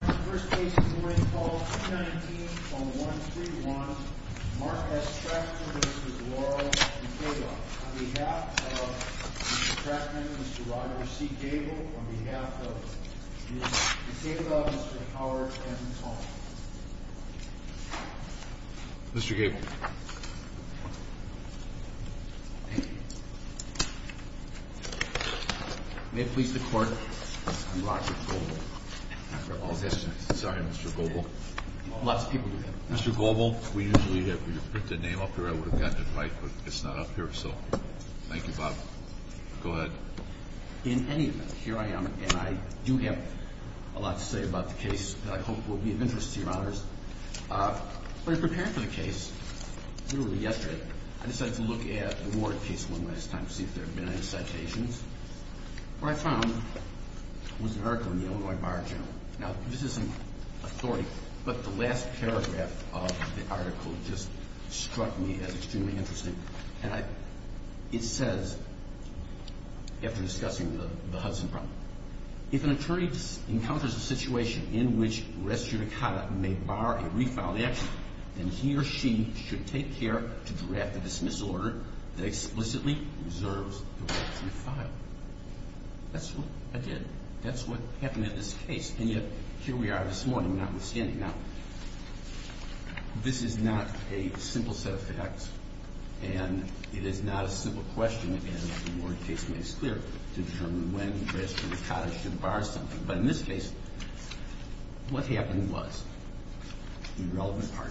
First case of the morning, call 219-0131. Mark S. Tractman v. Laurel v. Gabel. On behalf of Mr. Tractman, Mr. Roger C. Gabel. On behalf of Ms. Gabel, Mr. Howard M. Tomlin. Mr. Gabel. May it please the court, I'm Roger Gabel, after all this. Sorry, Mr. Gabel. Lots of people do that. Mr. Gabel, we usually have you put the name up here. I would have gotten it right, but it's not up here, so thank you, Bob. Go ahead. In any event, here I am, and I do have a lot to say about the case that I hope will be of interest to your honors. When I was preparing for the case, literally yesterday, I decided to look at the Ward case one last time to see if there had been any citations. What I found was an article in the Illinois Bar General. Now, this isn't authority, but the last paragraph of the article just struck me as extremely interesting. And it says, after discussing the Hudson problem, if an attorney encounters a situation in which res judicata may bar a refiled action, then he or she should take care to draft a dismissal order that explicitly reserves the right to refile. That's what I did. That's what happened in this case. And yet, here we are this morning notwithstanding. Now, this is not a simple set of facts, and it is not a simple question, again, that the Ward case makes clear to determine when res judicata should bar something. But in this case, what happened was, the irrelevant part,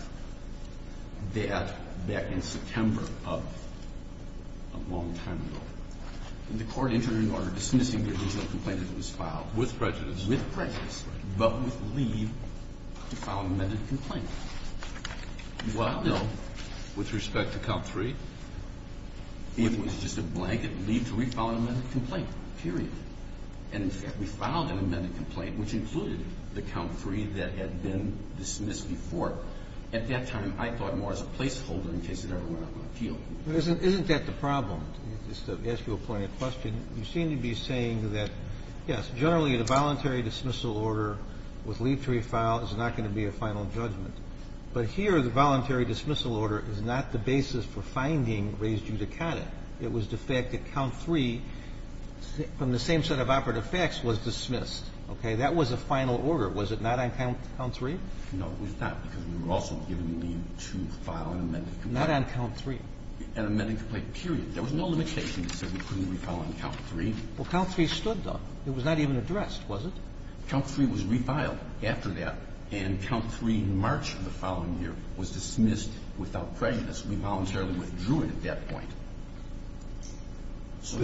that back in September of a long time ago, the court entered into order dismissing the original complaint that was filed. With prejudice. With prejudice, but with leave to file an amended complaint. Well, no. With respect to count three? It was just a blanket leave to refile an amended complaint, period. And in fact, we filed an amended complaint, which included the count three that had been dismissed before. At that time, I thought more as a placeholder in case it ever went up on appeal. Isn't that the problem? Just to ask you a poignant question. You seem to be saying that, yes, generally, the voluntary dismissal order with leave to refile is not going to be a final judgment. But here, the voluntary dismissal order is not the basis for finding res judicata. It was the fact that count three, from the same set of operative facts, was dismissed. Okay? That was a final order. Was it not on count three? No, it was not, because we were also given leave to file an amended complaint. Not on count three? An amended complaint, period. There was no limitation that said we couldn't refile on count three. Well, count three stood, though. It was not even addressed, was it? Count three was refiled after that. And count three in March of the following year was dismissed without prejudice. We voluntarily withdrew it at that point. So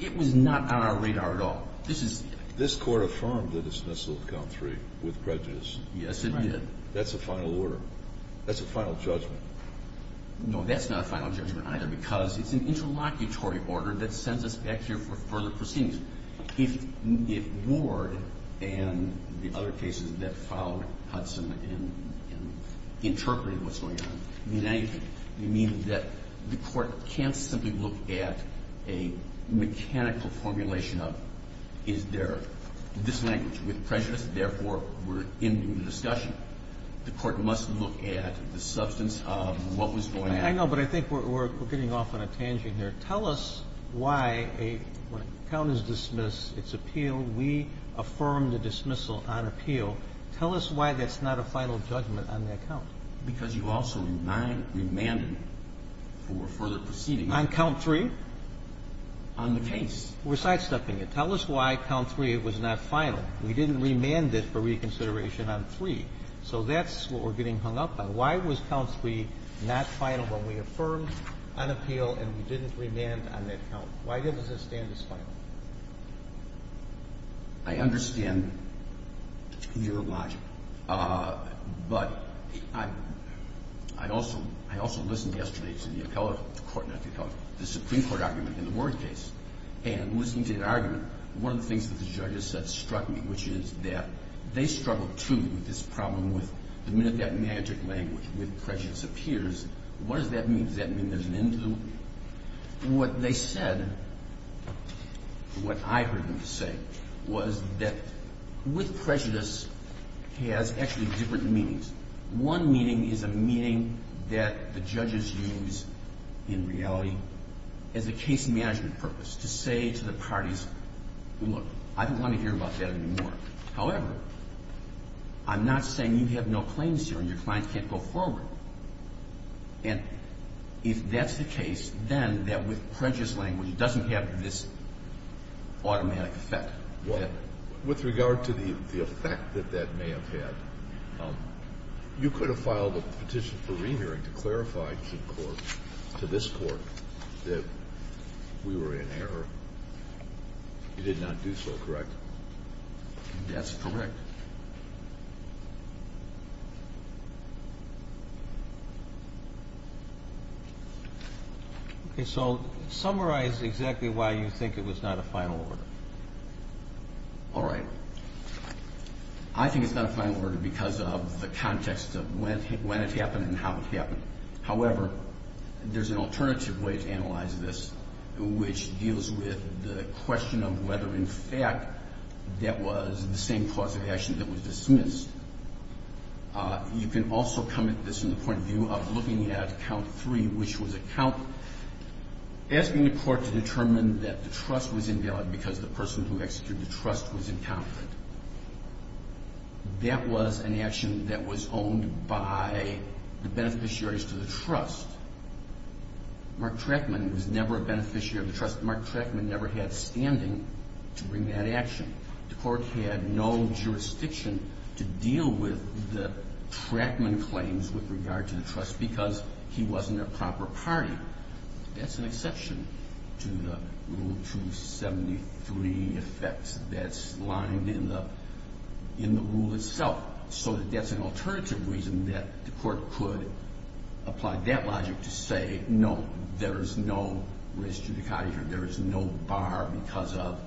it was not on our radar at all. This is the act. This Court affirmed the dismissal of count three with prejudice. Yes, it did. That's a final order. That's a final judgment. No, that's not a final judgment either, because it's an interlocutory order that sends us back here for further proceedings. If Ward and the other cases that followed Hudson in interpreting what's going on mean anything, it means that the Court can't simply look at a mechanical formulation of, is there this language, with prejudice, and therefore we're into the discussion. The Court must look at the substance of what was going on. I know, but I think we're getting off on a tangent here. Tell us why, when a count is dismissed, it's appealed. We affirm the dismissal on appeal. Tell us why that's not a final judgment on that count. Because you also remanded for further proceedings. On count three? On the case. We're sidestepping it. Tell us why count three was not final. We didn't remand it for reconsideration on three. So that's what we're getting hung up on. Why was count three not final when we affirmed on appeal and we didn't remand on that count? Why doesn't it stand as final? I understand your logic. But I also listened yesterday to the appellate court, not the appellate, the Supreme Court, and listening to the argument, one of the things that the judges said struck me, which is that they struggled, too, with this problem with the minute that magic language, with prejudice, appears, what does that mean? Does that mean there's an end to it? What they said, what I heard them say, was that with prejudice has actually different meanings. One meaning is a meaning that the judges use in reality as a case management purpose to say to the parties, look, I don't want to hear about that anymore. However, I'm not saying you have no claims here and your clients can't go forward. And if that's the case, then that with prejudice language doesn't have this automatic effect. With regard to the effect that that may have had, you could have filed a petition for re-hearing to clarify to the court, to this court, that we were in error. You did not do so, correct? That's correct. Okay. So summarize exactly why you think it was not a final order. All right. I think it's not a final order because of the context of when it happened and how it happened. However, there's an alternative way to analyze this, which deals with the question of whether, in fact, that was the same cause of action that was dismissed. You can also come at this from the point of view of looking at count three, which was a count, asking the court to determine that the trust was invalid because the person who executed the trust was incompetent. That was an action that was owned by the beneficiaries to the trust. Mark Trachman was never a beneficiary of the trust. Mark Trachman never had standing to bring that action. The court had no jurisdiction to deal with the Trachman claims with regard to the trust because he wasn't a proper party. That's an exception to the Rule 273 effects that's lined in the rule itself. So that's an alternative reason that the court could apply that logic to say, no, there is no risk to the contractor. There is no bar because of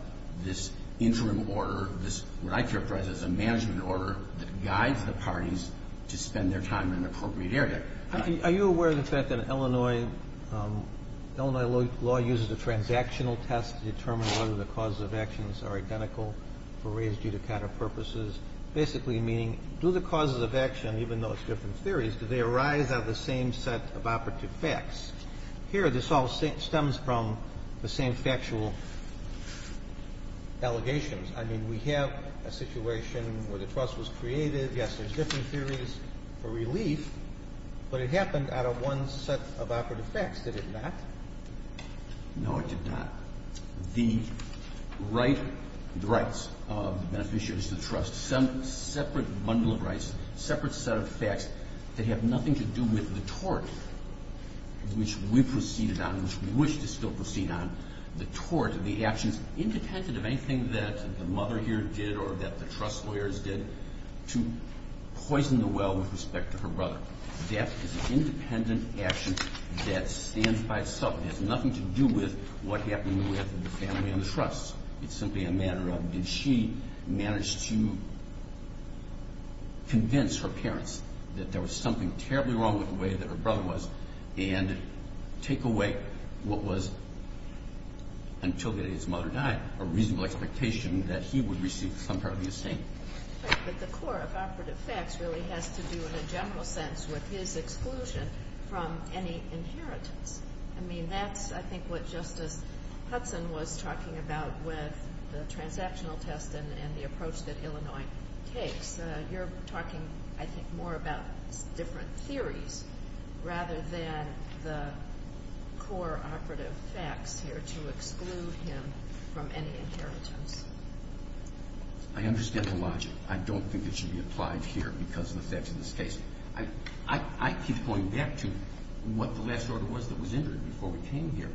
this interim order, what I characterize as a management order that guides the parties to spend their time in an appropriate area. Are you aware of the fact that Illinois law uses a transactional test to determine whether the causes of actions are identical or raised due to counterpurposes, basically meaning do the causes of action, even though it's different theories, do they arise out of the same set of operative facts? Here this all stems from the same factual allegations. I mean, we have a situation where the trust was created. Yes, there's different theories for relief. But it happened out of one set of operative facts, did it not? No, it did not. The right, the rights of beneficiaries to the trust, separate bundle of rights, separate set of facts that have nothing to do with the tort which we proceeded on and which we wish to still proceed on. The tort, the actions independent of anything that the mother here did or that the trust lawyers did to poison the well with respect to her brother. That is an independent action that stands by itself. It has nothing to do with what happened with the family and the trust. It's simply a matter of did she manage to convince her parents that there was something terribly wrong with the way that her brother was and take away what was, until the day his mother died, a reasonable expectation that he would receive some part of the estate. But the core of operative facts really has to do, in a general sense, with his exclusion from any inheritance. I mean, that's, I think, what Justice Hudson was talking about with the transactional test and the approach that Illinois takes. You're talking, I think, more about different theories rather than the core operative facts here to exclude him from any inheritance. I understand the logic. I don't think it should be applied here because of the facts of this case. I keep going back to what the last order was that was entered before we came here.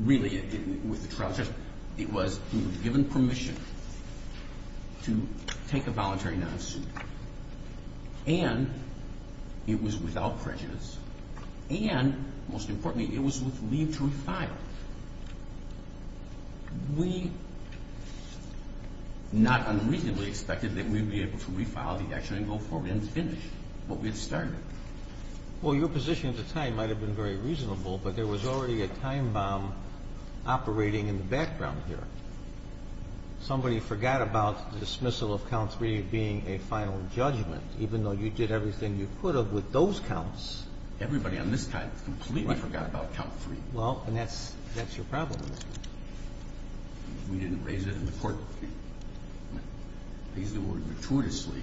Really, with the trial test, it was we were given permission to take a voluntary non-suit. And it was without prejudice. And, most importantly, it was with leave to refile. We not unreasonably expected that we would be able to refile the action and go forward and finish what we had started. Well, your position at the time might have been very reasonable, but there was already a time bomb operating in the background here. Somebody forgot about the dismissal of count three being a final judgment, even though you did everything you could have with those counts. Everybody on this side completely forgot about count three. Well, and that's your problem. We didn't raise it in the court. These people were gratuitously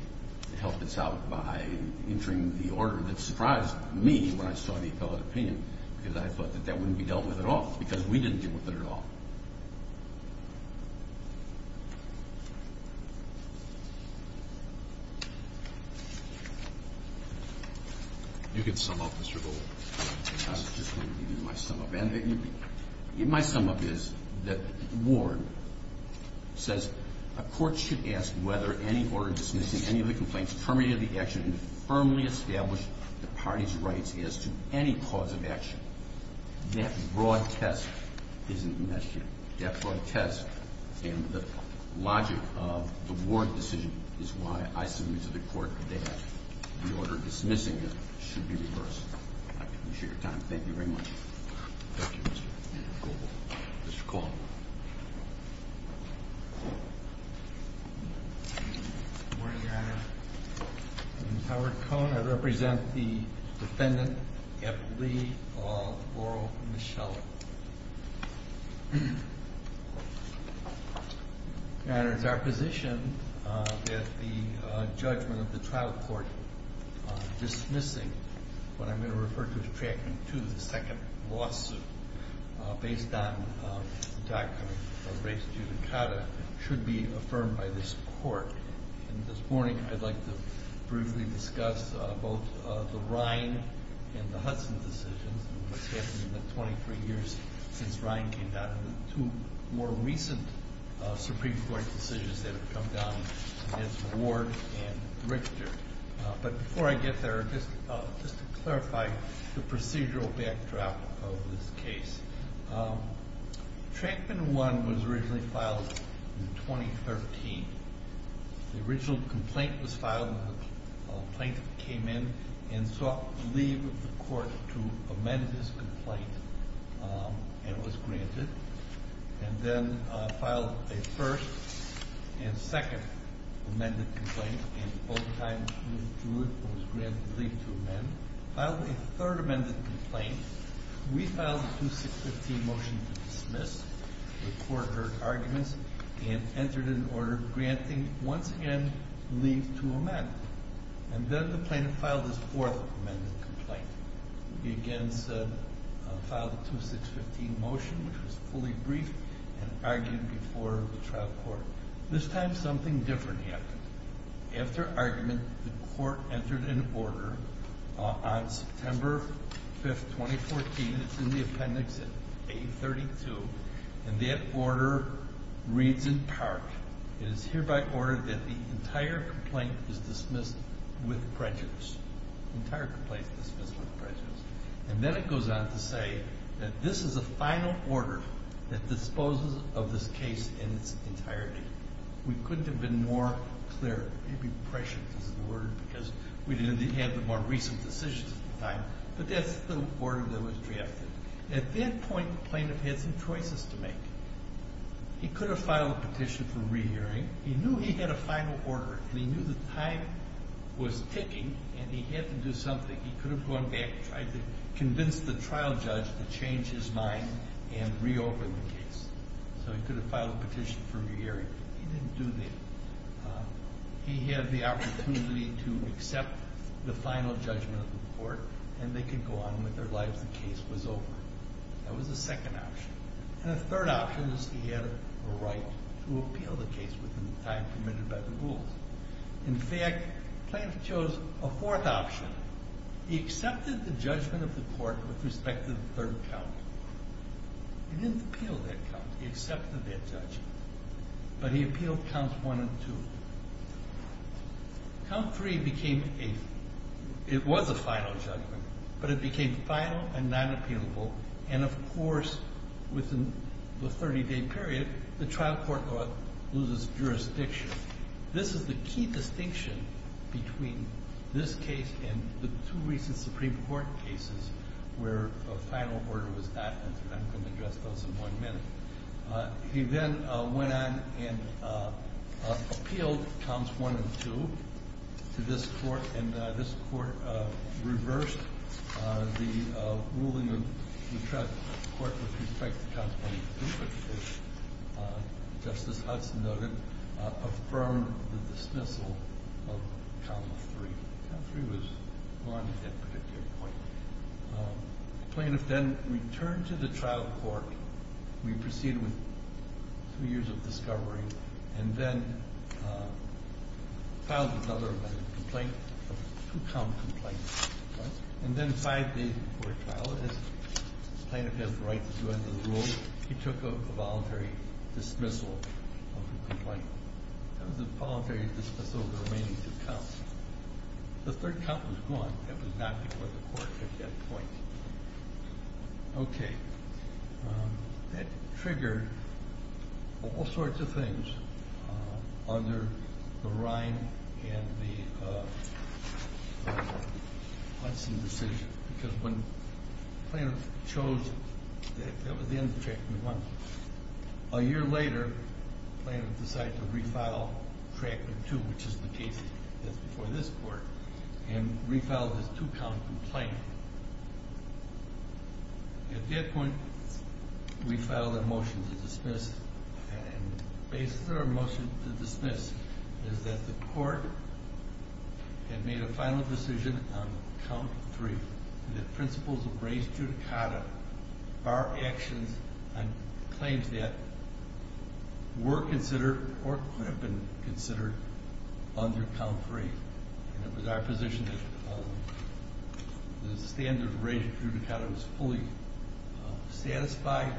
to help us out by entering the order that surprised me when I saw the appellate opinion because I thought that that wouldn't be dealt with at all because we didn't deal with it at all. You can sum up, Mr. Gold. I was just going to give you my sum up. My sum up is that Ward says a court should ask whether any order dismissing any of the complaints permitted the action to firmly establish the party's rights as to any cause of action. That broad test isn't an issue. That broad test and the logic of the Ward decision is why I submit to the court that the order dismissing it should be reversed. I appreciate your time. Thank you very much. Thank you, Mr. Gold. Mr. Cole. Good morning, Your Honor. I'm Howard Cohn. I represent the defendant, F. Lee, of Laurel, Michella. Your Honor, it's our position that the judgment of the trial court dismissing what I'm going to refer to as Track 2, the second lawsuit, based on the doctrine of race judicata, should be affirmed by this court. This morning, I'd like to briefly discuss both the Ryan and the Hudson decisions and what's happened in the 23 years since Ryan came out and the two more recent Supreme Court decisions that have come down against Ward and Richter. But before I get there, just to clarify the procedural backdrop of this case, Trackman 1 was originally filed in 2013. The original complaint was filed when a plaintiff came in and sought leave of the court to amend his complaint and was granted, and then filed a first and second amended complaint, and both times he withdrew it and was granted leave to amend. The plaintiff filed a third amended complaint. We filed a 2615 motion to dismiss. The court heard arguments and entered an order granting once again leave to amend. And then the plaintiff filed his fourth amended complaint. He again filed a 2615 motion, which was fully briefed and argued before the trial court. This time, something different happened. After argument, the court entered an order on September 5, 2014. It's in the appendix at 832, and that order reads in part, It is hereby ordered that the entire complaint is dismissed with prejudice. The entire complaint is dismissed with prejudice. And then it goes on to say that this is a final order that disposes of this case in its entirety. We couldn't have been more clear, maybe prescient is the word, because we didn't have the more recent decisions at the time, but that's the order that was drafted. At that point, the plaintiff had some choices to make. He could have filed a petition for re-hearing. He knew he had a final order, and he knew the time was ticking, and he had to do something. He could have gone back and tried to convince the trial judge to change his mind and reopen the case. So he could have filed a petition for re-hearing. He didn't do that. He had the opportunity to accept the final judgment of the court, and they could go on with their lives. The case was over. That was the second option. And the third option is he had a right to appeal the case within the time permitted by the rules. In fact, the plaintiff chose a fourth option. He accepted the judgment of the court with respect to the third count. He didn't appeal that count. He accepted that judgment. But he appealed counts one and two. Count three became a final judgment, but it became final and non-appealable. And, of course, within the 30-day period, the trial court loses jurisdiction. This is the key distinction between this case and the two recent Supreme Court cases where a final order was not entered. I'm going to address those in one minute. He then went on and appealed counts one and two to this court, and this court reversed the ruling of the court with respect to counts one and two, which, as Justice Hudson noted, affirmed the dismissal of count three. Count three was gone at that particular point. The plaintiff then returned to the trial court. He proceeded with three years of discovery and then filed another complaint, a two-count complaint. And then five days before trial, as the plaintiff has the right to do under the rules, he took a voluntary dismissal of the complaint. That was a voluntary dismissal of the remaining two counts. The third count was gone. That was not before the court at that point. Okay. That triggered all sorts of things under the Rhine and the Hudson decision, because when the plaintiff chose that that was the end of chapter one. A year later, the plaintiff decided to refile chapter two, which is the case that's before this court, and refiled this two-count complaint. At that point, we filed a motion to dismiss, and the basis of our motion to dismiss is that the court had made a final decision on count three. The principles of reis judicata are actions and claims that were considered or could have been considered under count three. And it was our position that the standard reis judicata was fully satisfied,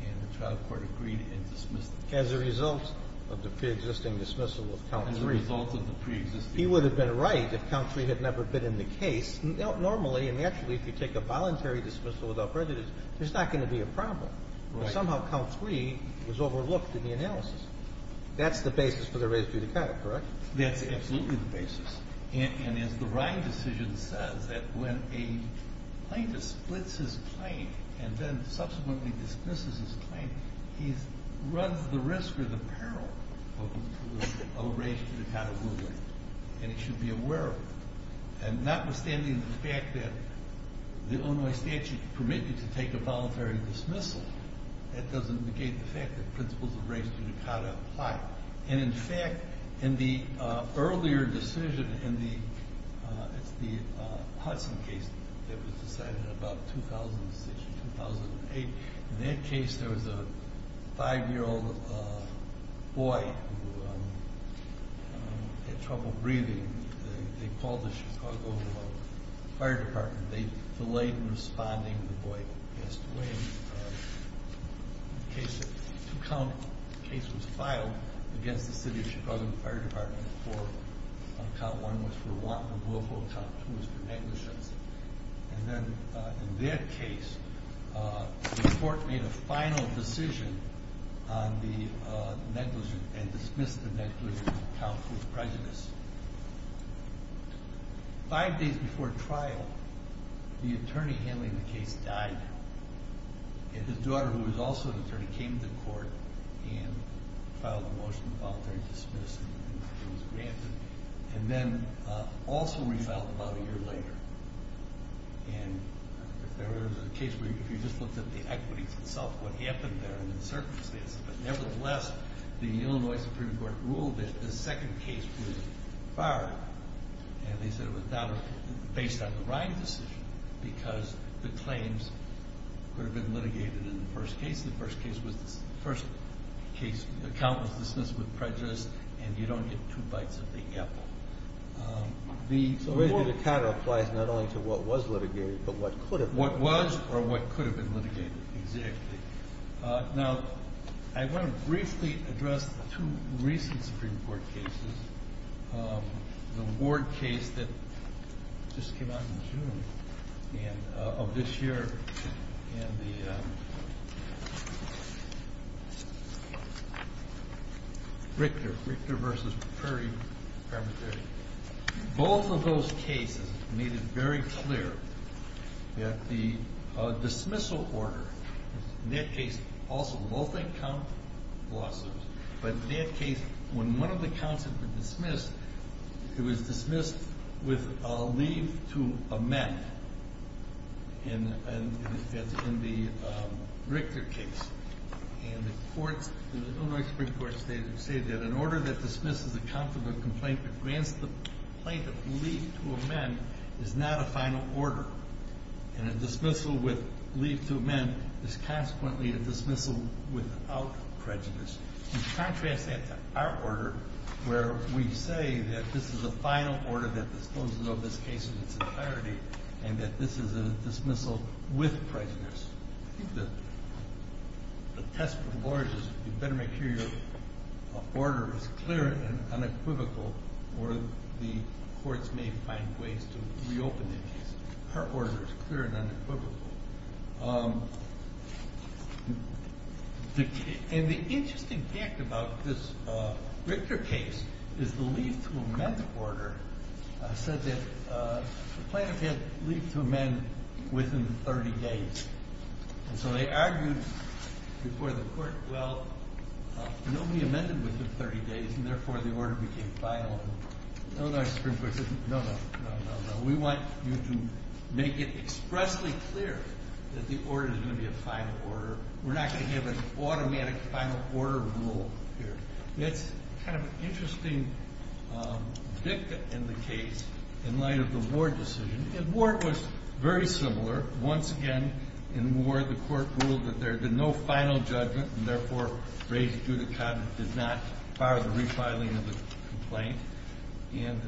and the trial court agreed and dismissed it. As a result of the preexisting dismissal of count three. As a result of the preexisting. He would have been right if count three had never been in the case. Normally, and naturally, if you take a voluntary dismissal without prejudice, there's not going to be a problem. Somehow count three was overlooked in the analysis. That's the basis for the reis judicata, correct? That's absolutely the basis. And as the Rhine decision says, that when a plaintiff splits his claim and then subsequently dismisses his claim, he runs the risk or the peril of a reis judicata ruling. And he should be aware of it. And notwithstanding the fact that the Illinois statute permitted to take a voluntary dismissal, that doesn't negate the fact that principles of reis judicata apply. And in fact, in the earlier decision in the Hudson case that was decided in about 2006 or 2008, in that case there was a five-year-old boy who had trouble breathing. They called the Chicago Fire Department. They delayed in responding. The boy passed away. The case was filed against the city of Chicago Fire Department. Count one was for want of willful, count two was for negligence. And then in that case, the court made a final decision on the negligence and dismissed the negligence and count two was prejudice. Five days before trial, the attorney handling the case died, and his daughter, who was also an attorney, came to court and filed a motion of voluntary dismissal, and she was granted, and then also refiled about a year later. And if there was a case where if you just looked at the equities itself, what happened there in the circumstances, but nevertheless, the Illinois Supreme Court ruled that the second case was fired, and they said it was based on the writing decision because the claims could have been litigated in the first case. The first case was the first case, the count was dismissed with prejudice, and you don't get two bites of the apple. The reis judicata applies not only to what was litigated but what could have been. What was or what could have been litigated, exactly. Now, I want to briefly address two recent Supreme Court cases. The Ward case that just came out in June of this year, and the Richter versus Prairie. Both of those cases made it very clear that the dismissal order, in that case also both encountered lawsuits, but in that case when one of the counts had been dismissed, it was dismissed with a leave to amend in the Richter case. And the courts in the Illinois Supreme Court stated that an order that dismisses a count from a complaint but grants the plaintiff leave to amend is not a final order. And a dismissal with leave to amend is consequently a dismissal without prejudice. You contrast that to our order where we say that this is a final order that disposes of this case in its entirety, and that this is a dismissal with prejudice. I think the test for the lawyers is you better make sure your order is clear and unequivocal or the courts may find ways to reopen the case. Our order is clear and unequivocal. And the interesting fact about this Richter case is the leave to amend order said that the plaintiff had leave to amend within 30 days. And so they argued before the court, well, nobody amended within 30 days, and therefore the order became final. Illinois Supreme Court said, no, no, no, no, no. We want you to make it expressly clear that the order is going to be a final order. We're not going to have an automatic final order rule here. That's kind of an interesting victim in the case in light of the Ward decision. And Ward was very similar. Once again, in Ward, the court ruled that there had been no final judgment, and therefore raised it due to comment, did not fire the refiling of the complaint. And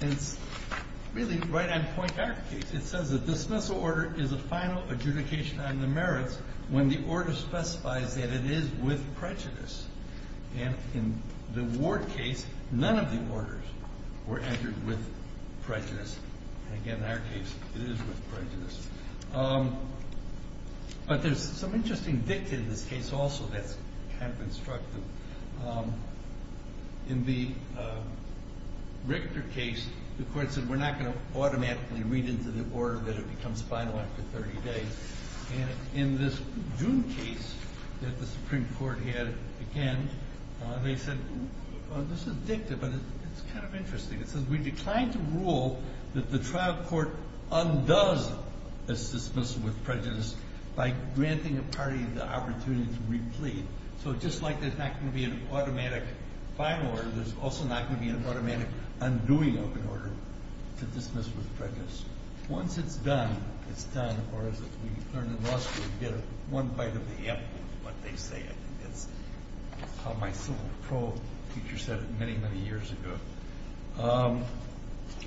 it's really right on point in our case. It says a dismissal order is a final adjudication on the merits when the order specifies that it is with prejudice. And in the Ward case, none of the orders were entered with prejudice. Again, in our case, it is with prejudice. But there's some interesting victim in this case also that's kind of constructive. In the Richter case, the court said, we're not going to automatically read into the order that it becomes final after 30 days. And in this June case that the Supreme Court had again, they said, this is dictative, but it's kind of interesting. It says we declined to rule that the trial court undoes a dismissal with prejudice by granting a party the opportunity to replete. So just like there's not going to be an automatic final order, there's also not going to be an automatic undoing of an order to dismiss with prejudice. Once it's done, it's done. Or as we learned in law school, you get one bite of the apple of what they say. That's how my civil pro teacher said it many, many years ago.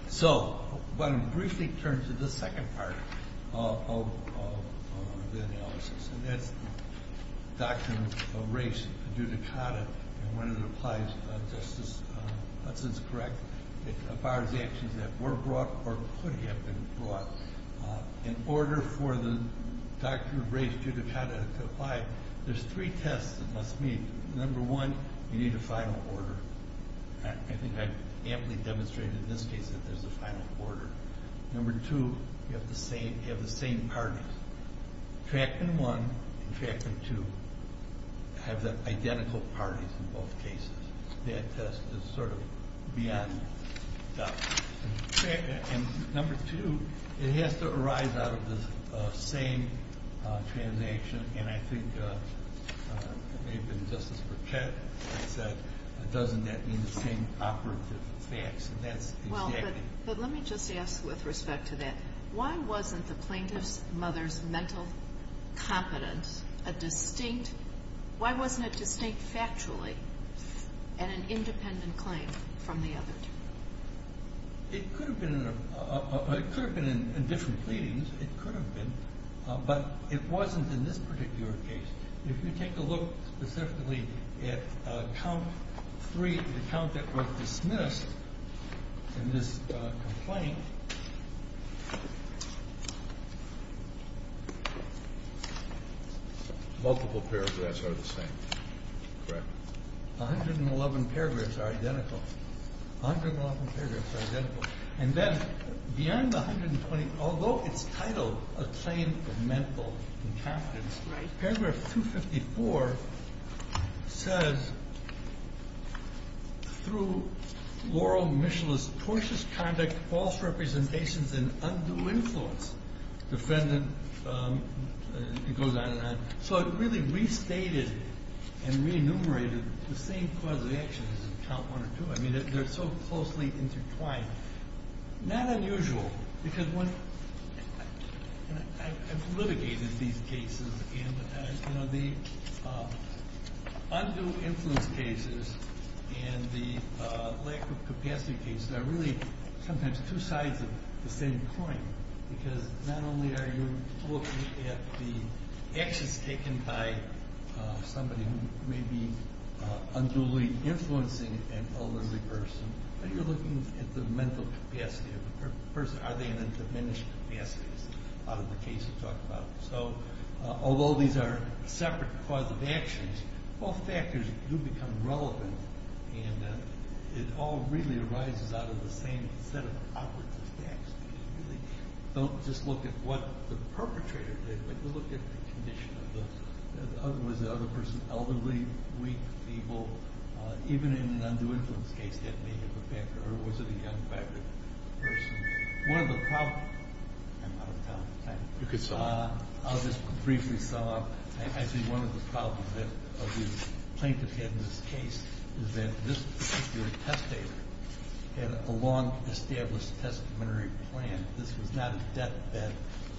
So I'm going to briefly turn to the second part of the analysis. And that's the doctrine of race, judicata, and when it applies, Justice Hudson is correct. It requires actions that were brought or could have been brought. In order for the doctrine of race, judicata to apply, there's three tests it must meet. Number one, you need a final order. I think I've amply demonstrated in this case that there's a final order. Number two, you have the same parties. Tractant 1 and Tractant 2 have the identical parties in both cases. That test is sort of beyond the doctrine. And number two, it has to arise out of the same transaction. And I think it may have been Justice Burchett that said, doesn't that mean the same operative facts? And that's exactly it. But let me just ask with respect to that. Why wasn't the plaintiff's mother's mental competence a distinct? Why wasn't it distinct factually and an independent claim from the other? It could have been in different pleadings. It could have been. But it wasn't in this particular case. If you take a look specifically at count three, the count that was dismissed in this complaint, multiple paragraphs are the same, correct? 111 paragraphs are identical. 111 paragraphs are identical. And then beyond the 120, although it's titled a claim of mental incompetence, paragraph 254 says, through Laurel Mitchell's tortuous conduct, false representations, and undue influence, defendant, it goes on and on. So it really restated and re-enumerated the same cause of action as in count one or two. I mean, they're so closely intertwined. Not unusual because I've litigated these cases. The undue influence cases and the lack of capacity cases are really sometimes two sides of the same coin because not only are you looking at the actions taken by somebody who may be unduly influencing an elderly person, but you're looking at the mental capacity of the person. Are they in a diminished capacity out of the case you talk about? So although these are separate cause of actions, all factors do become relevant, and it all really arises out of the same set of outward effects. You really don't just look at what the perpetrator did, but you look at the condition of the person, elderly, weak, feeble. Even in an undue influence case, that may have a factor. Or was it a young, vibrant person? One of the problems, I'm out of time. I'll just briefly sum up. I think one of the problems that the plaintiff had in this case is that this particular testator had a long-established testamentary plan. This was not a deathbed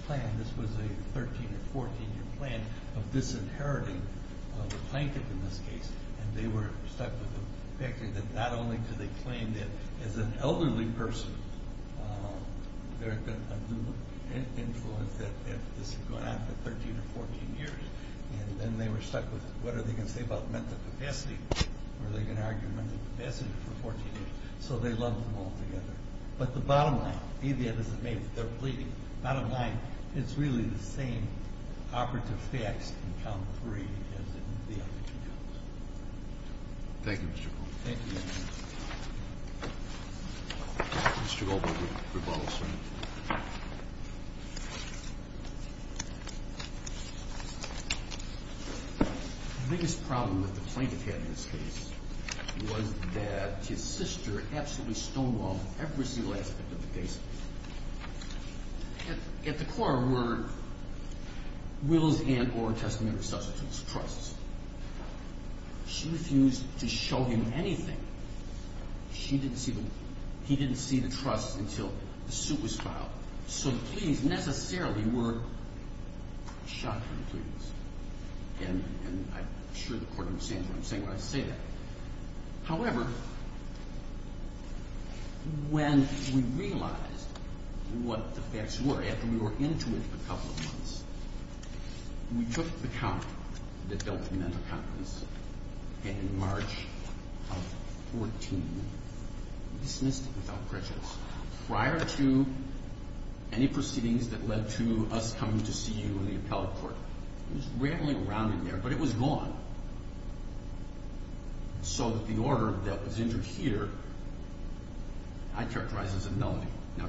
plan. This was a 13- or 14-year plan of disinheriting the plaintiff in this case. And they were stuck with the fact that not only did they claim that as an elderly person, there had been an undue influence that this had gone on for 13 or 14 years, and then they were stuck with what are they going to say about mental capacity? Are they going to argue mental capacity for 14 years? So they lumped them all together. But the bottom line, be that as it may, they're pleading, it's really the same operative facts in count three as in the other two counts. Thank you, Mr. Goldberg. Thank you, Your Honor. The biggest problem that the plaintiff had in this case was that his sister absolutely stonewalled every single aspect of the case. At the core were wills and or testamentary substitutes, trusts. She refused to show him anything. He didn't see the trusts until the suit was filed. So the pleadings necessarily were shocking pleadings. And I'm sure the Court understands what I'm saying when I say that. However, when we realized what the facts were, after we were into it for a couple of months, we took the count that dealt with mental capacity and in March of 14 dismissed it without prejudice. Prior to any proceedings that led to us coming to see you in the appellate court, it was rambling around in there, but it was gone. So the order that was entered here I characterize as a nullity. Now,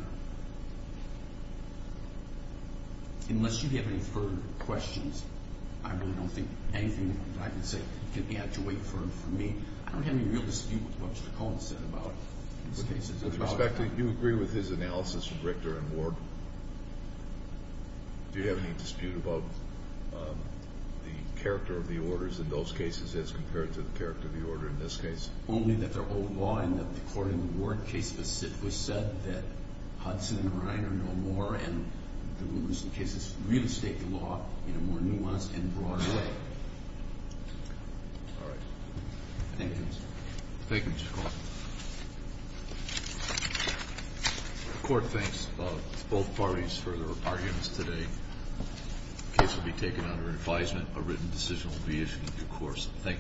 unless you have any further questions, I really don't think anything that I can say can add to weight for me. I don't have any real dispute with what Mr. Cohen said about these cases. With respect, do you agree with his analysis of Richter and Ward? Do you have any dispute about the character of the orders in those cases as compared to the character of the order in this case? Only that they're old law and that the court in the Ward case specifically said that Hudson and Reiner no more, and the rumors in the cases really state the law in a more nuanced and broad way. All right. Thank you, Justice. Thank you, Mr. Cohen. The court thanks both parties for their arguments today. The case will be taken under advisement. A written decision will be issued in due course. Thank you.